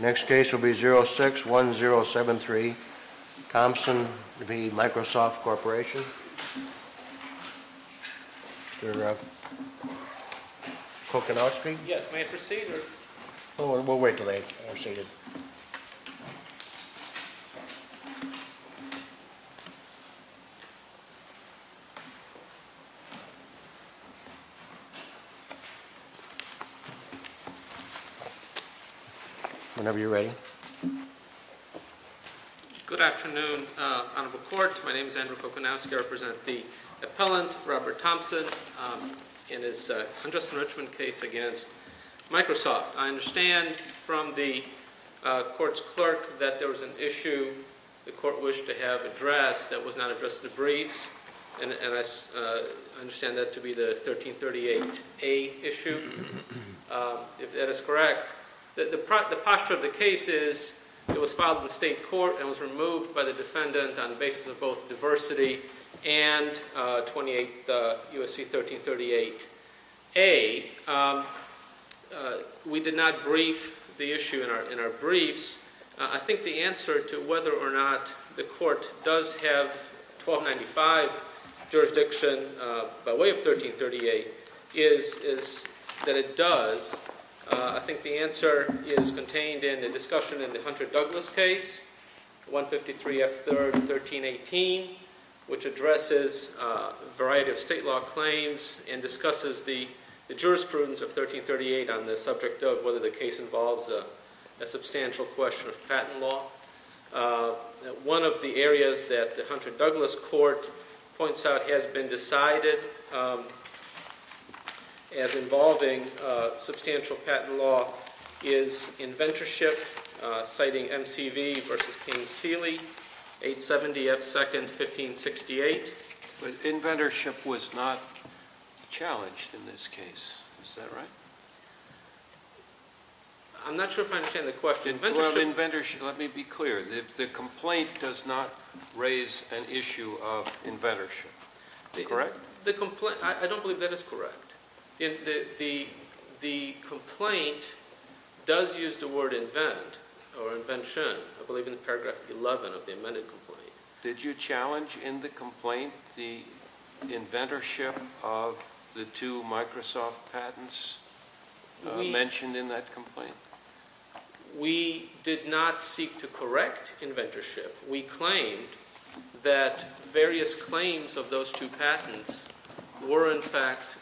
Next case will be 061073, Thompson v. Microsoft Corporation. Mr. Kocanowski? Yes, may I proceed? We'll wait until they are seated. Whenever you're ready. Mr. Kocanowski, I represent the appellant, Robert Thompson, in his Hundredth Enrichment case against Microsoft. I understand from the court's clerk that there was an issue the court wished to have addressed that was not addressed in the briefs, and I understand that to be the 1338A issue, if that is correct. The posture of the case is it was filed in both diversity and 28 U.S.C. 1338A. We did not brief the issue in our briefs. I think the answer to whether or not the court does have 1295 jurisdiction by way of 1338 is that it does. I think the answer is contained in the discussion in the Hunter-Douglas case, 153 F. 3rd, 1318, which addresses a variety of state law claims and discusses the jurisprudence of 1338 on the subject of whether the case involves a substantial question of patent law. One of the areas that the Hunter-Douglas court points out has been decided as involving substantial patent law is inventorship, citing MCV v. Kane-Seeley, 870 F. 2nd, 1568. Inventorship was not challenged in this case, is that right? I'm not sure if I understand the question. Inventorship Let me be clear. The complaint does not raise an issue of inventorship, correct? I don't believe that is correct. The complaint does use the word invent or invention, I believe in paragraph 11 of the amended complaint. Did you challenge in the complaint the inventorship of the two Microsoft patents mentioned in that complaint? We did not seek to correct inventorship. We claimed that various claims of those two patents were in fact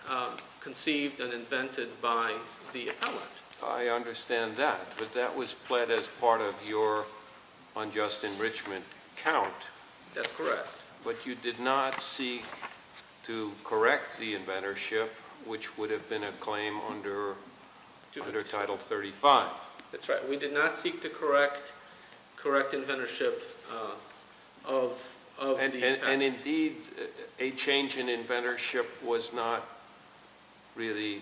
conceived and invented by the appellant. I understand that, but that was pled as part of your unjust enrichment count. That's correct. But you did not seek to correct the inventorship, which would have been a claim under Title 35. That's right. We did not seek to correct inventorship of the patent. And indeed, a change in inventorship was not really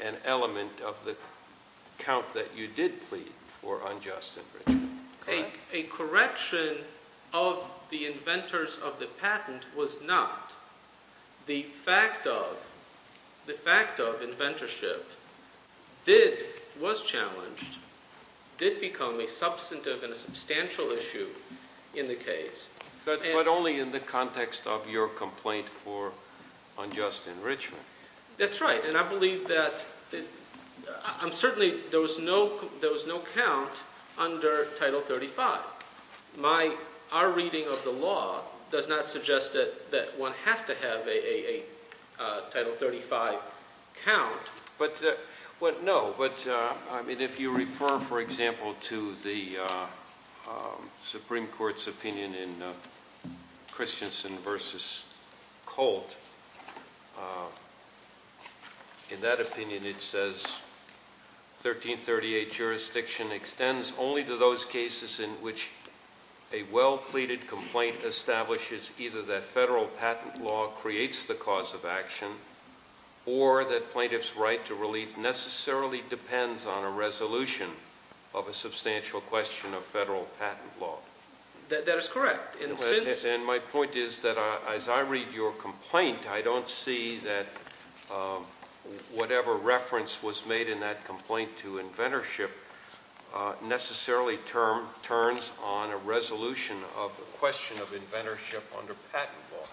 an element of the count that you did plead for unjust enrichment, correct? A correction of the inventors of the patent was not. The fact of inventorship was challenged, did become a substantive and a substantial issue in the case. But only in the context of your complaint for unjust enrichment. That's right. And I believe that, I'm certainly, there was no count under Title 35. My, our reading of the law does not suggest that one has to have a Title 35 count. But no, but I mean, if you refer, for example, to the Supreme Court's opinion in Christensen v. Colt, in that opinion it says, 1338 jurisdiction extends only to those cases in which a well-pleaded complaint establishes either that federal patent law creates the cause of action or that plaintiff's right to relief necessarily depends on a resolution of a substantial question of federal patent law. That is correct. And since... And my point is that as I read your complaint, I don't see that whatever reference was made in that complaint to inventorship necessarily turns on a resolution of the question of inventorship under patent law.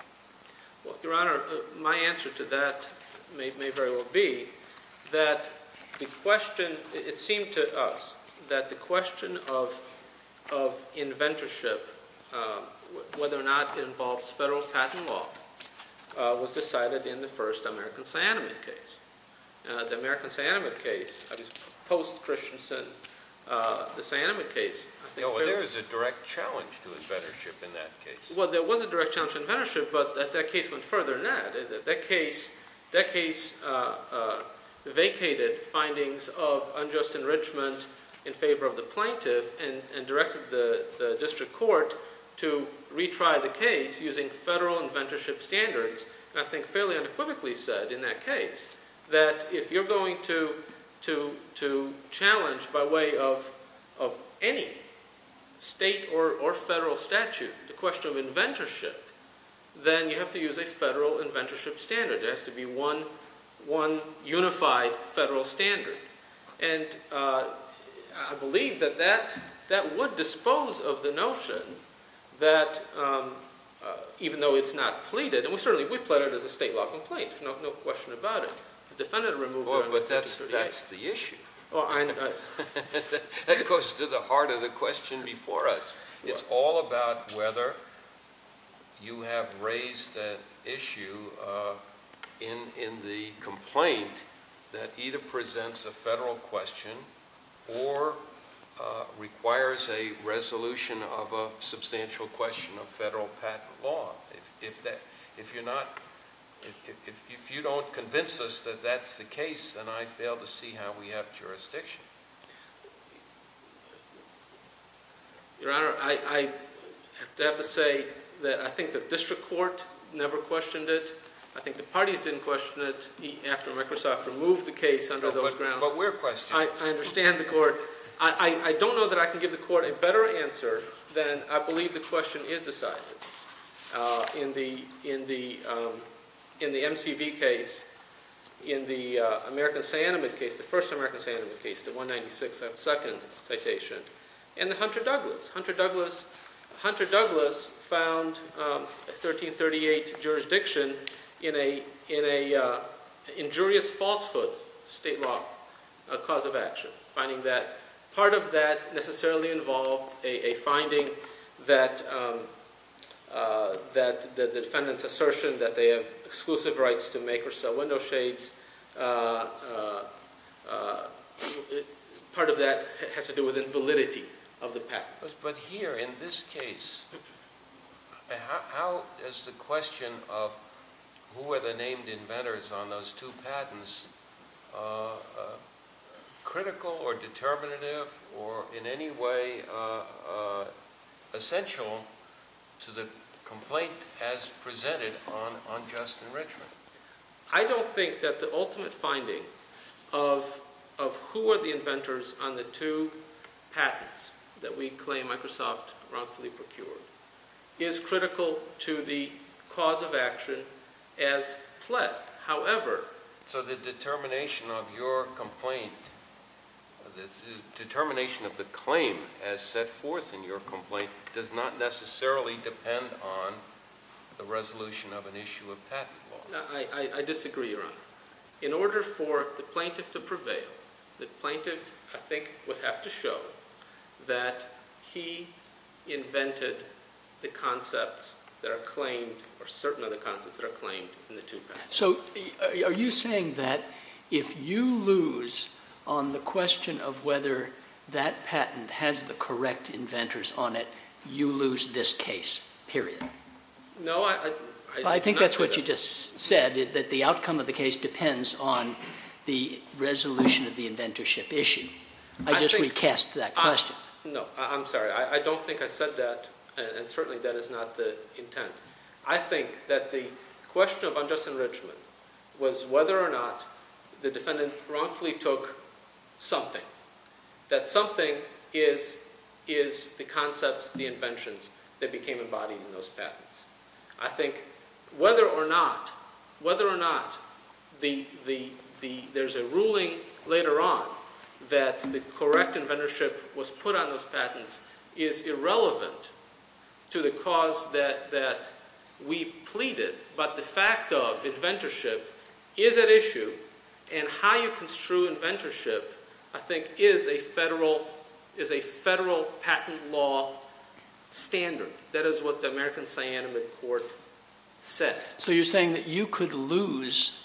Well, Your Honor, my answer to that may very well be that the question, it seemed to us that the question of inventorship, whether or not it involves federal patent law, was decided in the first American cyanamide case. The American cyanamide case, I mean, post-Christensen, the cyanamide case... No, there was a direct challenge to inventorship in that case. Well, there was a direct challenge to inventorship, but that case went further than that. That case vacated findings of unjust enrichment in favor of the plaintiff and directed the district court to retry the case using federal inventorship standards, and I think fairly unequivocally said in that case that if you're going to challenge by way of any state or federal statute the question of inventorship, then you have to use a federal inventorship standard. There has to be one unified federal standard, and I believe that that would dispose of the notion that, even though it's not pleaded, and we certainly would plead it as a state law complaint. There's no question about it. It's defended a removal of inventorship. Well, but that's the issue. That goes to the heart of the question before us. It's all about whether you have raised that issue in the complaint that either presents a federal question or requires a resolution of a substantial question of federal patent law. If you don't convince us that that's the case, then I fail to see how we have jurisdiction. Your Honor, I have to say that I think the district court never questioned it. I think the parties didn't question it after Microsoft removed the case under those grounds. But we're questioning it. I understand the court. I don't know that I can give the court a better answer than I believe the question is decided. In the MCV case, in the American Saniment case, the first American Saniment case, the 196th second citation, and the Hunter-Douglas. Hunter-Douglas found 1338 jurisdiction in a injurious falsehood state law cause of action. Part of that necessarily involved a finding that the defendant's assertion that they have exclusive rights to make or not. Part of that has to do with invalidity of the patent. But here, in this case, how is the question of who are the named inventors on those two patents critical or determinative or in any way essential to the complaint as presented on Justin Richman? I don't think that the ultimate finding of who are the inventors on the two patents that we claim Microsoft wrongfully procured is critical to the cause of action as pled. However... So the determination of your complaint, the determination of the claim as set forth in I disagree, Your Honor. In order for the plaintiff to prevail, the plaintiff, I think, would have to show that he invented the concepts that are claimed or certain of the concepts that are claimed in the two patents. So are you saying that if you lose on the question of whether that patent has the correct inventors on it, you lose this case, period? No, I... I think that's what you just said, that the outcome of the case depends on the resolution of the inventorship issue. I just recast that question. No, I'm sorry. I don't think I said that, and certainly that is not the intent. I think that the question of on Justin Richman was whether or not the defendant wrongfully took something. That something is the concepts, the inventions that became embodied in those patents. Whether or not there's a ruling later on that the correct inventorship was put on those patents is irrelevant to the cause that we pleaded, but the fact of inventorship is at issue, and how you construe inventorship, I think, is a federal patent law standard. That is what the American Siena Midcourt said. So you're saying that you could lose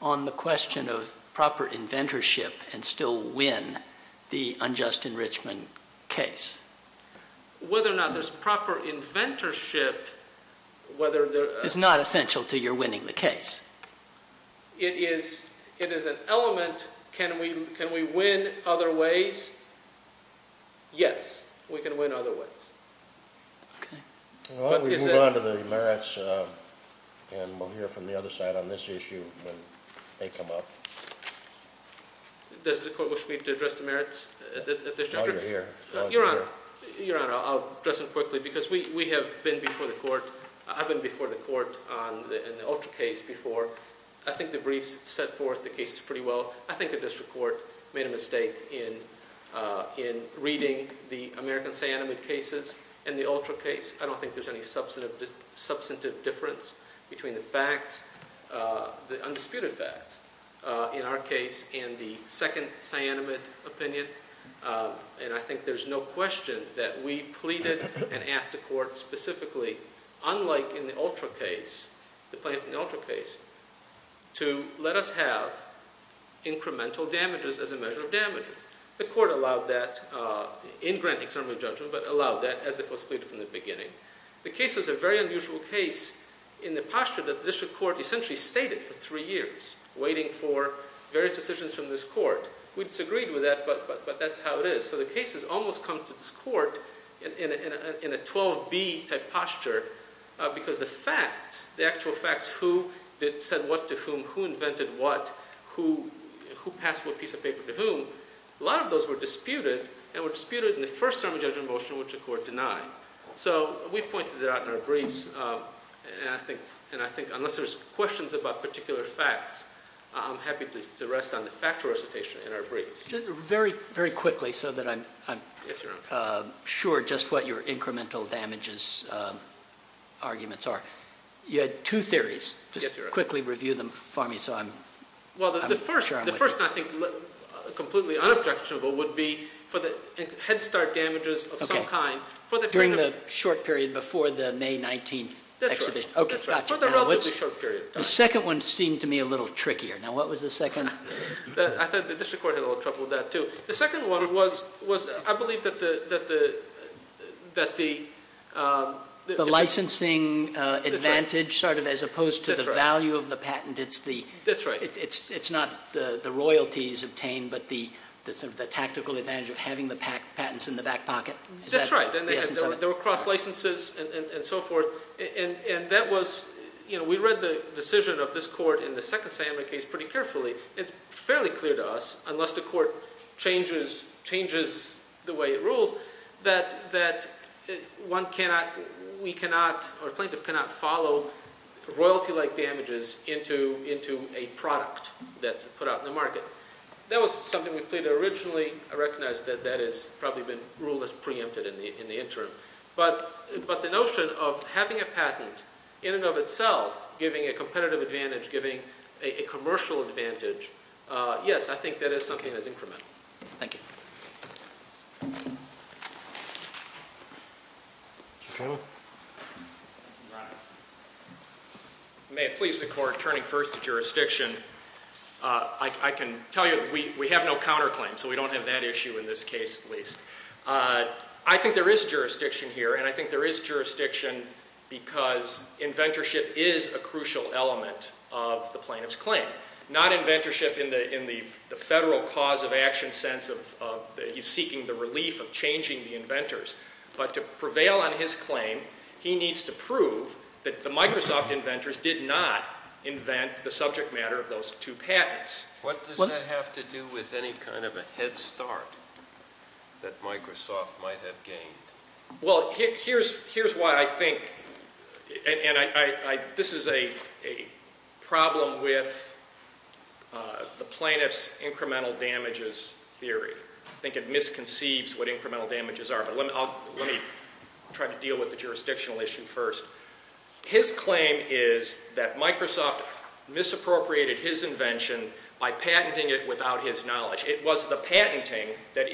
on the question of proper inventorship and still win the unjust enrichment case? Whether or not there's proper inventorship, whether there... Is not essential to your winning the case. It is an element. Can we win other ways? Yes, we can win other ways. Well, we move on to the merits, and we'll hear from the other side on this issue when they come up. Does the court wish me to address the merits at this juncture? No, you're here. Your Honor, I'll address them quickly because we have been before the court, I've been before the court on the Ultra case before. I think the briefs set forth the cases pretty well. I think the district court made a mistake in reading the American Siena Midcourt cases and the Ultra case. I don't think there's any substantive difference between the facts, the undisputed facts, in our case and the second Siena Midcourt opinion, and I think there's no question that we pleaded and asked the court specifically, unlike in the Ultra case, to let us have incremental damages as a measure of damages. The court allowed that in granting summary judgment, but allowed that as if it was pleaded from the beginning. The case is a very unusual case in the posture that the district court essentially stated for three years, waiting for various decisions from this court. We disagreed with that, but that's how it is. So the case has almost come to this court in a 12-B type posture because the facts, the actual facts, who said what to whom, who invented what, who passed what piece of paper to whom, a lot of those were disputed, and were disputed in the first summary judgment motion, which the court denied. So we pointed that out in our briefs, and I think unless there's questions about particular facts, I'm happy to rest on the factual recitation in our briefs. Very quickly, so that I'm sure just what your incremental damages arguments are. You had two theories. Just quickly review them for me so I'm sure I'm with you. The first, I think, completely unobjectionable, would be for the head start damages of some kind. During the short period before the May 19th exhibition? That's right. Okay, gotcha. For the relatively short period. The second one seemed to me a little trickier. Now what was the second? I thought the district court had a little trouble with that too. The second one was, I believe that the... The licensing advantage, sort of, as opposed to the value of the patent. That's right. It's not the royalties obtained, but the tactical advantage of having the patents in the back pocket. That's right. The essence of it. There were cross licenses and so forth, and that was, you know, we read the decision of this court in the second case pretty carefully. It's fairly clear to us, unless the court changes the way it rules, that one cannot, we cannot, or a plaintiff cannot follow royalty-like damages into a product that's put out in the market. That was something we played originally. I recognize that that has probably been ruled as preempted in the interim. But the notion of having a patent in and of itself, giving a competitive advantage, giving a commercial advantage, yes, I think that is something that's incremental. Thank you. May it please the court, turning first to jurisdiction, I can tell you we have no counterclaim, so we don't have that issue in this case at least. I think there is jurisdiction here, and I think there is jurisdiction because inventorship is a crucial element of the plaintiff's claim. Not inventorship in the federal cause of action sense of he's seeking the relief of changing the inventors. But to prevail on his claim, he needs to prove that the Microsoft inventors did not invent the subject matter of those two patents. What does that have to do with any kind of a head start that Microsoft might have gained? Well, here's why I think, and this is a problem with the plaintiff's incremental damages theory. I think it misconceives what incremental damages are. But let me try to deal with the jurisdictional issue first. His claim is that Microsoft misappropriated his invention by patenting it without his knowledge. It was the patent of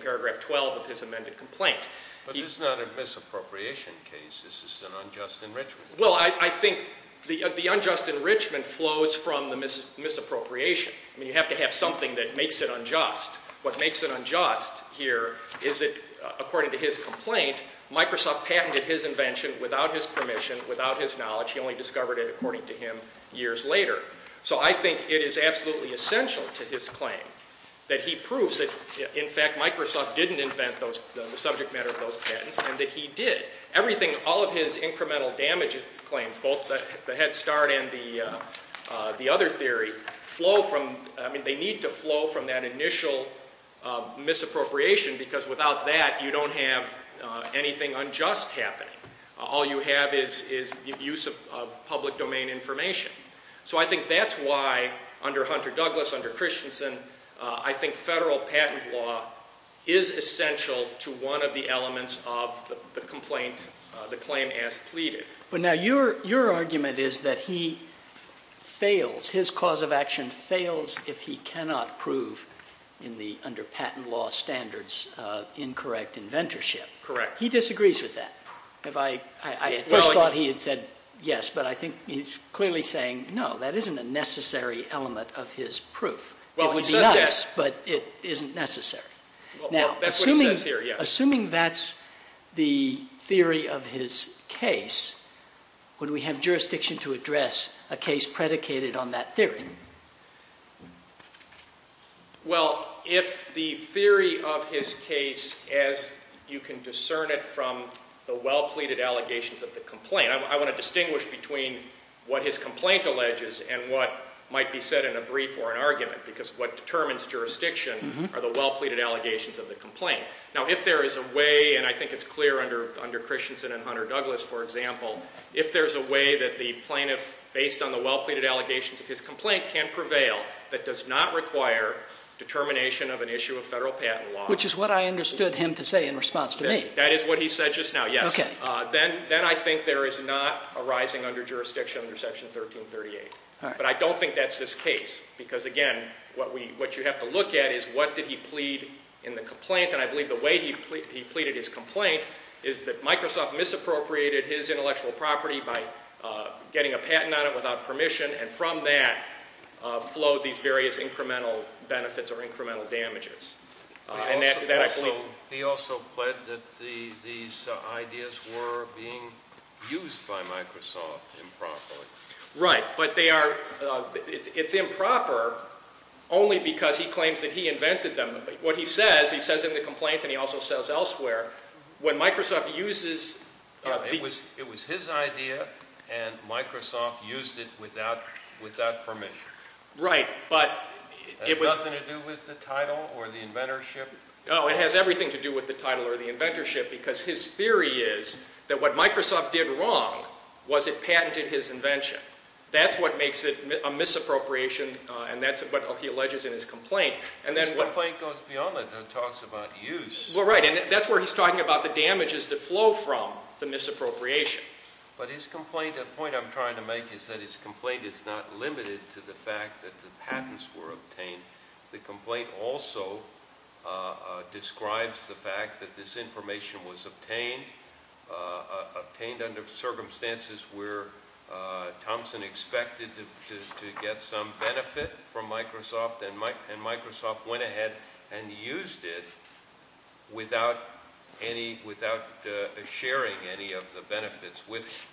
2012 of his amended complaint. But this is not a misappropriation case. This is an unjust enrichment. Well, I think the unjust enrichment flows from the misappropriation. You have to have something that makes it unjust. What makes it unjust here is that according to his complaint, Microsoft patented his invention without his permission, without his knowledge. He only discovered it according to him years later. So I think it is true that Microsoft didn't invent the subject matter of those patents and that he did. Everything, all of his incremental damages claims, both the head start and the other theory, flow from, I mean, they need to flow from that initial misappropriation because without that, you don't have anything unjust happening. All you have is use of public domain information. So I think that's why under Hunter Douglas, under Christensen, I think federal patent law is essential to one of the elements of the complaint, the claim as pleaded. But now your argument is that he fails, his cause of action fails if he cannot prove in the under patent law standards incorrect inventorship. Correct. He disagrees with that. I first thought he had said yes, but I think he's clearly saying no, that isn't a necessary element of his proof. It would be us, but it isn't necessary. Assuming that's the theory of his case, would we have jurisdiction to address a case predicated on that theory? Well, if the theory of his case is as you can discern it from the well pleaded allegations of the complaint, I want to distinguish between what his complaint alleges and what might be said in a brief or an argument because what determines jurisdiction are the well pleaded allegations of the complaint. Now if there is a way, and I think it's clear under Christensen and Hunter Douglas, for example, if there's a way that the plaintiff, based on the well pleaded allegations of his complaint, can prevail that does not require determination of an issue of federal patent law. Which is what I understood him to say in response to me. That is what he said just now, yes. Then I think there is not a rising under jurisdiction under section 1338. But I don't think that's his case because again, what you have to look at is what did he plead in the complaint and I believe the way he pleaded his complaint is that Microsoft misappropriated his intellectual property by getting a patent on it without permission and from that flowed these various incremental benefits or incremental damages. He also pled that these ideas were being used by Microsoft improperly. Right, but they are, it's improper only because he claims that he invented them. What he says, he says in the complaint and he also says elsewhere, when Microsoft uses, it was his idea and Microsoft used it without permission. Right, but it has nothing to do with the title or the inventorship? No, it has everything to do with the title or the inventorship because his theory is that what Microsoft did wrong was it patented his invention. That's what makes it a misappropriation and that's what he alleges in his complaint. His complaint goes beyond it and talks about use. Well right and that's where he's talking about the damages that flow from the misappropriation. But his complaint, the point I'm trying to make is that his complaint is not limited to the fact that the patents were obtained. The complaint also describes the fact that this information was obtained, obtained under circumstances where Thompson expected to get some benefit from Microsoft and Microsoft went ahead and used it without any, without sharing any of the benefits with him.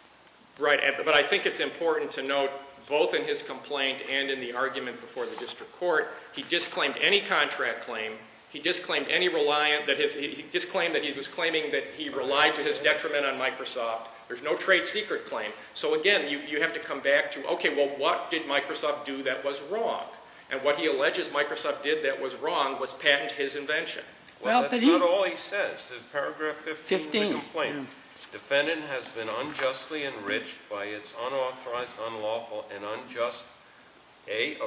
Right, but I think it's important to note both in his complaint and in the argument before the District Court, he disclaimed any contract claim, he disclaimed any reliant, he disclaimed that he was claiming that he relied to his detriment on Microsoft. There's no trade secret claim. So again, you have to come back to okay, well what did Microsoft do that was wrong? And what he alleges Microsoft did that was wrong was patent his invention. Well that's not all he says. In paragraph 15 of the complaint, defendant has been unjustly enriched by its unauthorized, unlawful, and unjust, A,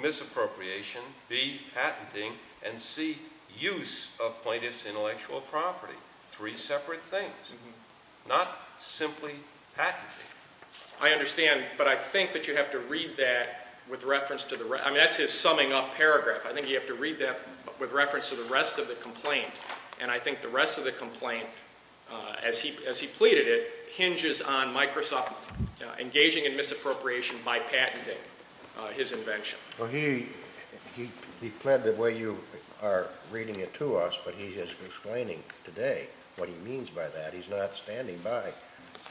misappropriation, B, patenting, and C, use of plaintiff's intellectual property. Three separate things. Not simply patenting. I understand, but I think that you have to read that with reference to the rest, I mean that's his summing up paragraph. I think you have to read that with reference to the rest of the complaint. And I think the rest of the complaint, as he pleaded it, hinges on Microsoft engaging in misappropriation by patenting his invention. He pled the way you are reading it to us, but he is explaining today what he means by that. He's not standing by.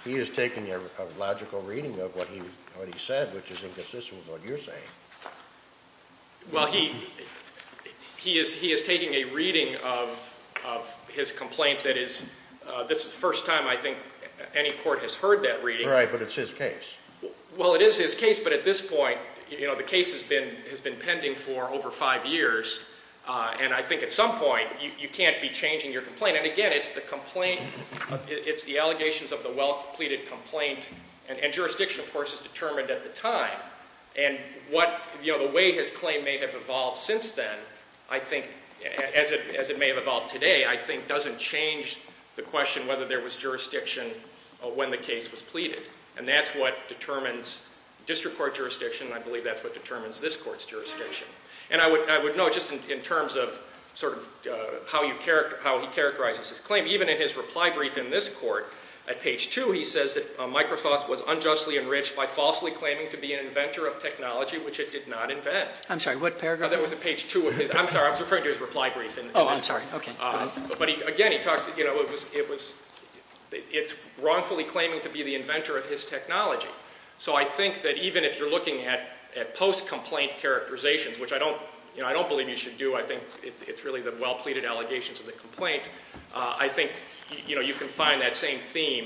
He is taking a logical reading of what he said, which is inconsistent with what you're saying. Well he is taking a reading of his case. Well it is his case, but at this point, the case has been pending for over five years, and I think at some point you can't be changing your complaint. And again, it's the allegations of the well pleaded complaint, and jurisdiction of course is determined at the time. And the way his claim may have evolved since then, as it may have evolved today, I think doesn't change the question whether there was jurisdiction when the case was pleaded. And that's what determines district court jurisdiction, and I believe that's what determines this court's jurisdiction. And I would note, just in terms of how he characterizes his claim, even in his reply brief in this court, at page two he says that Microsoft was unjustly enriched by falsely claiming to be an inventor of technology, which it did not invent. I'm sorry, what did he say? It's wrongfully claiming to be the inventor of his technology. So I think that even if you're looking at post-complaint characterizations, which I don't believe you should do, I think it's really the well pleaded allegations of the complaint, I think you can find that same theme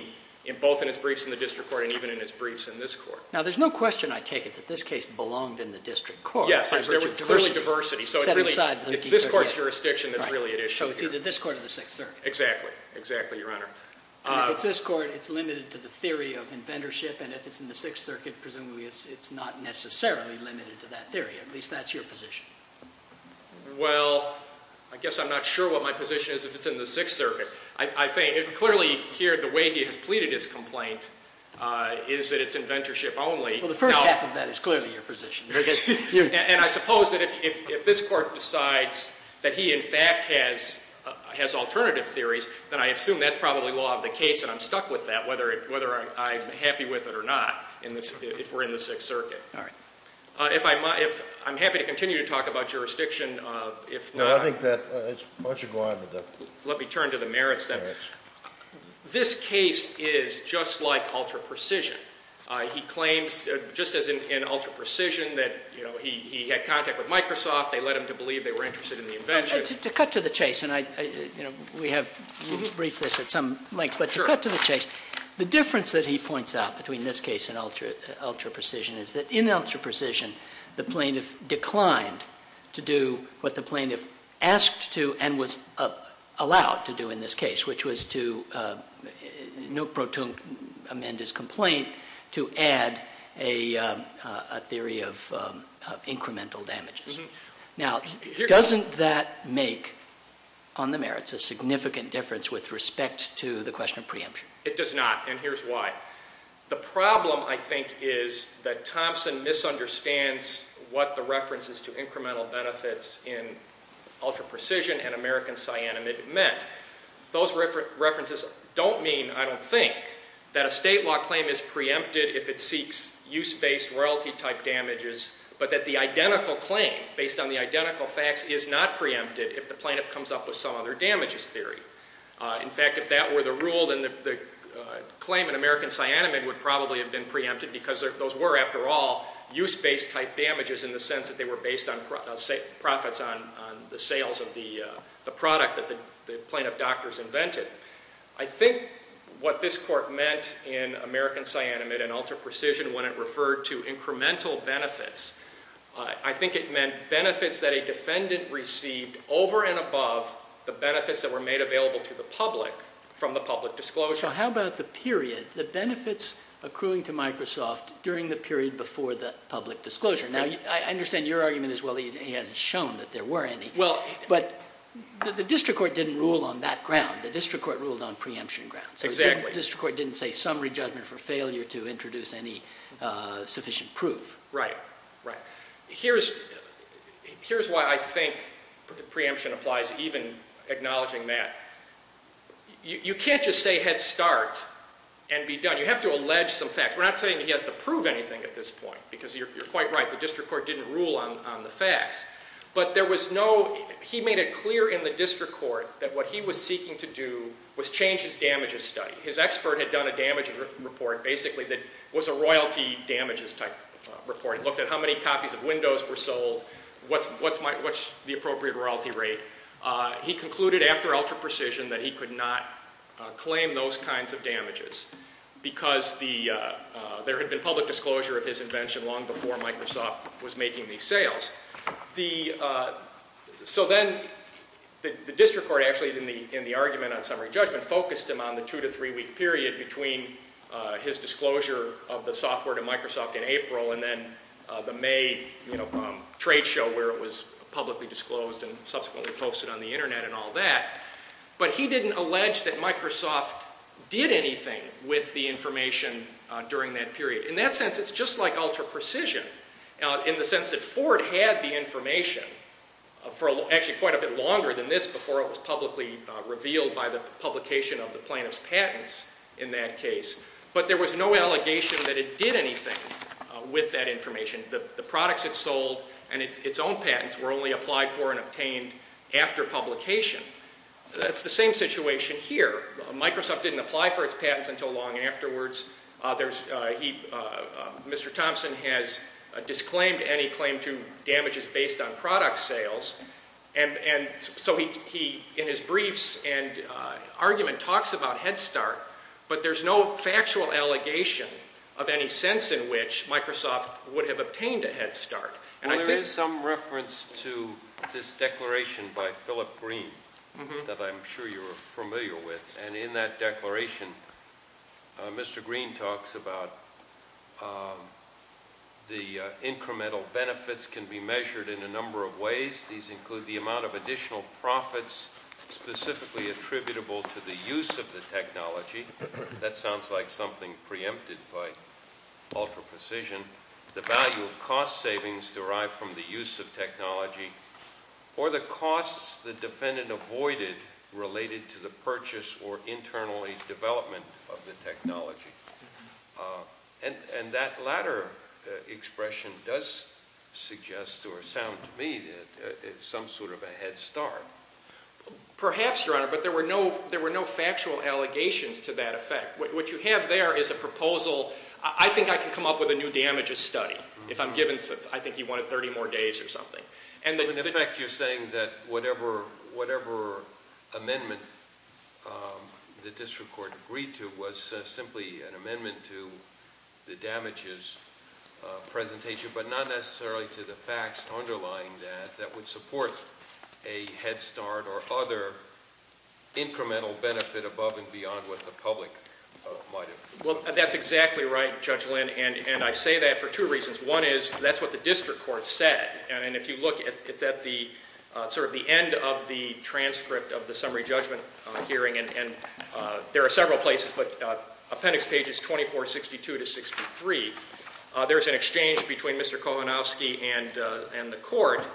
both in his briefs in the district court and even in his briefs in this court. Now there's no question I take it that this case belonged in the district court. Yes, there was clearly diversity. So it's really this court's jurisdiction that's really at issue here. So it's either this court or the Sixth Circuit. Exactly. Exactly, Your Honor. And if it's this court, it's limited to the theory of inventorship, and if it's in the Sixth Circuit, presumably it's not necessarily limited to that theory. At least that's your position. Well, I guess I'm not sure what my position is if it's in the Sixth Circuit. I think, clearly here the way he has pleaded his complaint is that it's inventorship only. Well, the first half of that is clearly your position. And I suppose that if this court decides that he in fact has alternative theories, then I assume that's probably law of the case, and I'm stuck with that, whether I'm happy with it or not, if we're in the Sixth Circuit. Alright. I'm happy to continue to talk about jurisdiction. I think that it's much Let me turn to the merits then. This case is just like ultra-precision. He claims, just as in ultra-precision, that he had contact with Microsoft. They led him to believe they were interested in the invention. To cut to the chase, and we have briefed this at some length, but to cut to the chase, the difference that he points out between this case and ultra-precision is that in ultra-precision the plaintiff declined to do what the plaintiff asked to, and was allowed to do in this case, which was to, Nuk Protunk amend his complaint to add a theory of incremental damages. Now, doesn't that make on the merits a significant difference with respect to the question of preemption? It does not, and what the reference is to incremental benefits in ultra-precision and American cyanamide meant. Those references don't mean, I don't think, that a state law claim is preempted if it seeks use-based royalty type damages, but that the identical claim, based on the identical facts, is not preempted if the plaintiff comes up with some other damages theory. In fact, if that were the rule, then the claim in American cyanamide would probably have been preempted, because those were, after all, use-based type damages in the sense that they were based on profits on the sales of the product that the plaintiff doctors invented. I think what this court meant in American cyanamide and ultra-precision when it referred to incremental benefits, I think it meant benefits that a defendant received over and above the benefits that were made available to the public from the public disclosure. How about the period? The benefits accruing to Microsoft during the period before the public disclosure? Now, I understand your argument as well. He hasn't shown that there were any. But the district court didn't rule on that ground. The district court ruled on preemption grounds. The district court didn't say summary judgment for failure to introduce any sufficient proof. Right, right. Here's why I think preemption applies, even acknowledging that. You can't just say head start and be done. You have to allege some facts. We're not saying he has to prove anything at this point, because you're quite right, the district court didn't rule on the facts. But there was no, he made it clear in the district court that what he was seeking to do was change his damages study. His expert had done a damages report basically that was a royalty damages type report. It looked at how many copies of Windows were sold, what's the appropriate royalty rate. He concluded after ultra-precision that he could not claim those kinds of damages, because there had been public disclosure of his invention long before Microsoft was making these sales. So then the district court actually in the argument on summary judgment focused him on the two to three week period between his disclosure of the software to Microsoft in April and then the May trade show where it was publicly disclosed and subsequently posted on the internet and all that. But he didn't allege that Microsoft did anything with the information during that period. In that sense it's just like ultra-precision in the sense that Ford had the information for actually quite a bit longer than this before it was publicly revealed by the publication of the plaintiff's patents in that case. But there was no allegation that it did anything with that information. The products it sold and its own patents were only applied for and obtained after publication. That's the same situation here. Microsoft didn't apply for its disclaimed any claim to damages based on product sales. So he in his briefs and argument talks about Head Start but there's no factual allegation of any sense in which Microsoft would have obtained a Head Start. Well there is some reference to this declaration by Philip Green that I'm sure you're familiar with. And in that declaration Mr. Green talks about the incremental benefits can be measured in a number of ways. These include the amount of additional profits specifically attributable to the use of the technology. That sounds like something preempted by ultra-precision. The value of cost savings derived from the use of technology or the costs the defendant avoided related to the purchase or internally development of the technology. And that latter expression does suggest or sound to me that it's some sort of a Head Start. Perhaps Your Honor but there were no factual allegations to that effect. What you have there is a proposal. I think I can come up with a new damages study. If I'm given, I think you wanted 30 more days or something. So in effect you're saying that whatever amendment the district court agreed to was simply an amendment to the damages presentation but not necessarily to the facts underlying that that would support a Head Start or other incremental benefit above and beyond what the public might have. Well that's exactly right Judge Lynn and I say that for two reasons. One is that's what the district court said and if you look it's at the sort of the end of the transcript of the summary judgment hearing and there are several places but appendix pages 2462 to 63 there's an exchange between Mr. Kolanowski and the court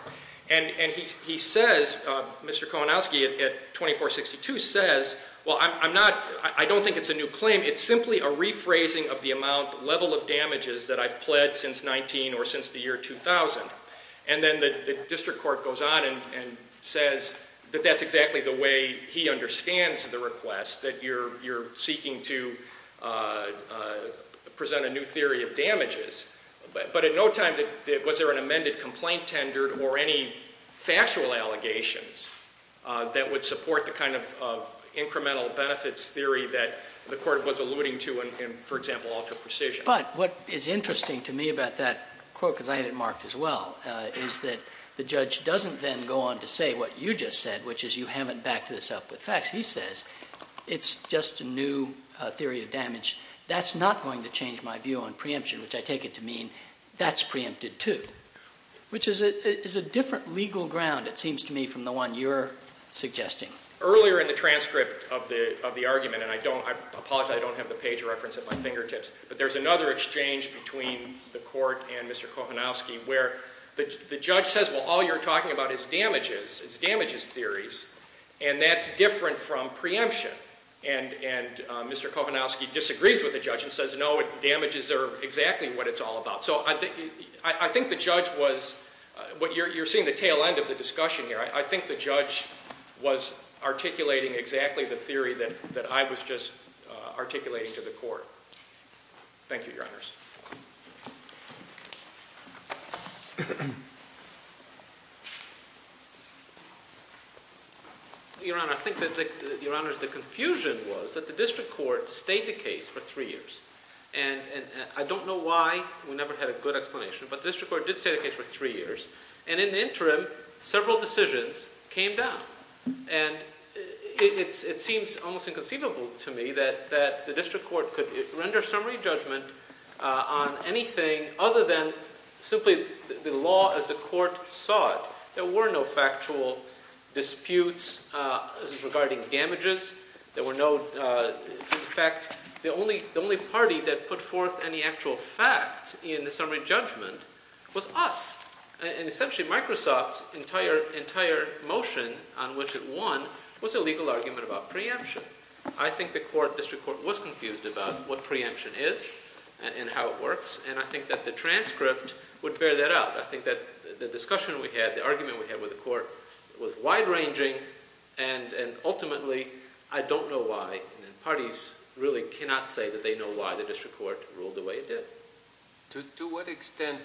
and he says Mr. Kolanowski at 2462 says well I'm not, I don't think it's a new claim it's simply a rephrasing of the amount level of damages that I've pled since 19 or since the year 2000. And then the district court goes on and says that that's exactly the way he understands the request that you're seeking to present a new theory of damages. But at no time was there an amended complaint tender or any factual allegations that would support the kind of incremental benefits theory that the court was alluding to in for example alter precision. But what is interesting to me about that quote because I had it marked as well is that the judge doesn't then go on to say what you just said which is you haven't backed this up with facts. He says it's just a new theory of damage. That's not going to change my view on preemption which I take it to mean that's preempted too. Which is a different legal ground it seems to me from the one you're suggesting. Earlier in the transcript of the argument and I don't, I apologize I don't have the page reference at my fingertips but there's another exchange between the court and Mr. Kolanowski where the judge says well all you're talking about is damages, it's damages theories. And that's different from preemption. And Mr. Kolanowski disagrees with the judge and says no damages are exactly what it's all about. So I think the judge was, you're seeing the tail end of the discussion here. I think the judge was articulating exactly the theory that I was just articulating to the court. Thank you your honors. Your honor I think that your honors the confusion was that the district court stayed the case for three years. And I don't know why, we never had a good explanation but the district court did stay the case for three years. And in the interim several decisions came down. And it seems almost inconceivable to me that the district court could render summary judgment on anything other than simply the law as the court saw it. There were no factual disputes regarding damages. There were no, in fact the only party that put forth any actual facts in the summary judgment was us. And essentially Microsoft's entire motion on which it won was a legal argument about preemption. I think the court, district court was confused about what preemption is and how it works. And I think that the transcript would bear that out. I think that the discussion we had, the argument we had with the court was wide ranging and ultimately I don't know why and parties really cannot say that they know why the district court ruled the way it did. To what extent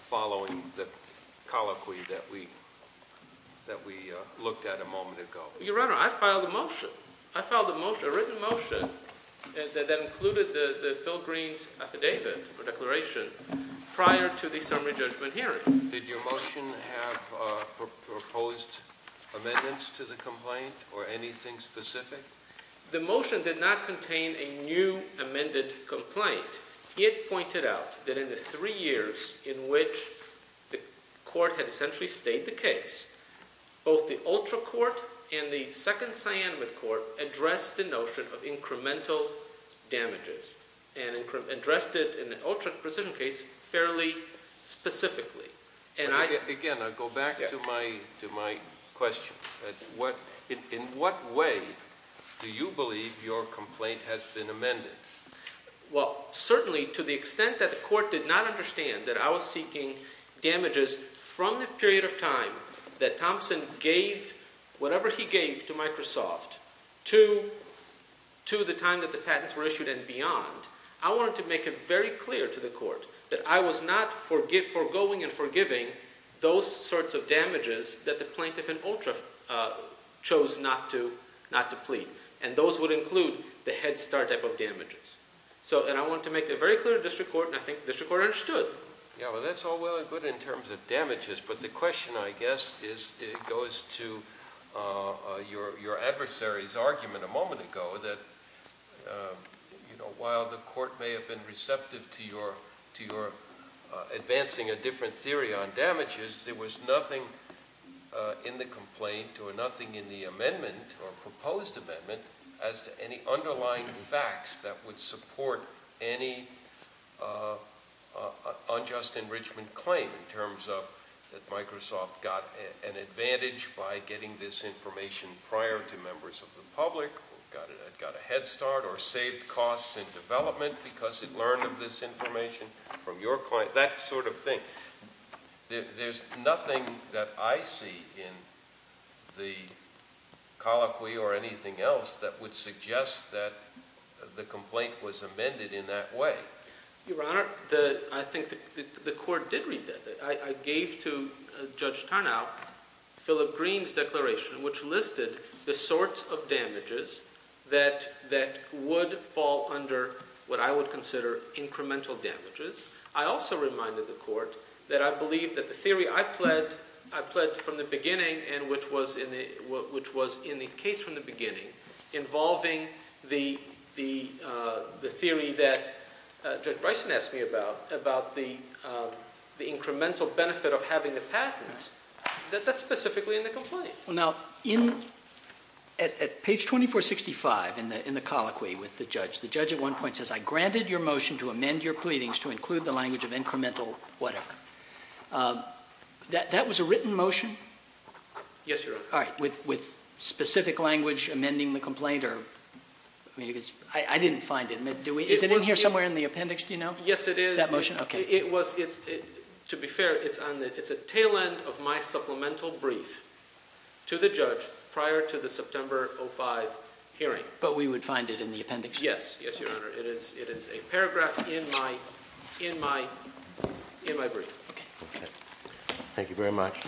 following the colloquy that we looked at a moment ago? Your Honor, I filed a motion. I filed a written motion that included the Phil Green's affidavit or declaration prior to the summary judgment hearing. Did your motion have proposed amendments to the complaint or anything specific? The motion did not contain a new amended complaint. It pointed out that in the three years in which the court had essentially stayed the case, both the ultra court and the second cyanamide court addressed the notion of incremental damages and addressed it in the ultra precision case fairly specifically. Again, I go back to my question. In what way do you believe your complaint has been amended? Well, certainly to the extent that the court did not understand that I was seeking damages from the period of time that Thompson gave whatever he gave to Microsoft to the time that the patents were issued and beyond. I wanted to make it very clear to the court that I was not forgoing and forgiving those sorts of damages that the plaintiff in ultra chose not to plead. Those would include the head start type of damages. I wanted to make it very clear to district court and I think district court understood. That's all well and good in terms of damages, but the question I guess goes to your adversary's argument a moment ago that while the court may have been receptive to your advancing a different theory on damages, there was nothing in the complaint or nothing in the amendment or proposed amendment as to any underlying facts that would support any unjust enrichment claim in terms of that Microsoft got an advantage by getting this information prior to members of the public. It got a head start or saved costs in development because it learned of this information from your client. That sort of thing. There's nothing that I see in the colloquy or anything else that would suggest that the complaint was amended in that way. Your Honor, I think the point I would make to Judge Tarnow, Phillip Green's declaration which listed the sorts of damages that would fall under what I would consider incremental damages. I also reminded the court that I believe that the theory I pled from the beginning and which was in the case from the beginning involving the theory that Judge Bryson asked me about, about the incremental benefit of having the patents, that that's specifically in the complaint. Now, at page 2465 in the colloquy with the judge, the judge at one point says, I granted your motion to amend your pleadings to include the language of incremental whatever. That was a written motion? Yes, Your Honor. Alright, with specific language amending the complaint? I didn't find it. Is it in here somewhere in the appendix? Do you know? Yes, it is. To be fair, it's on the tail end of my supplemental brief to the judge prior to the September 05 hearing. But we would find it in the appendix? Yes, Your Honor. It is a paragraph in my brief. Thank you very much. Case is submitted.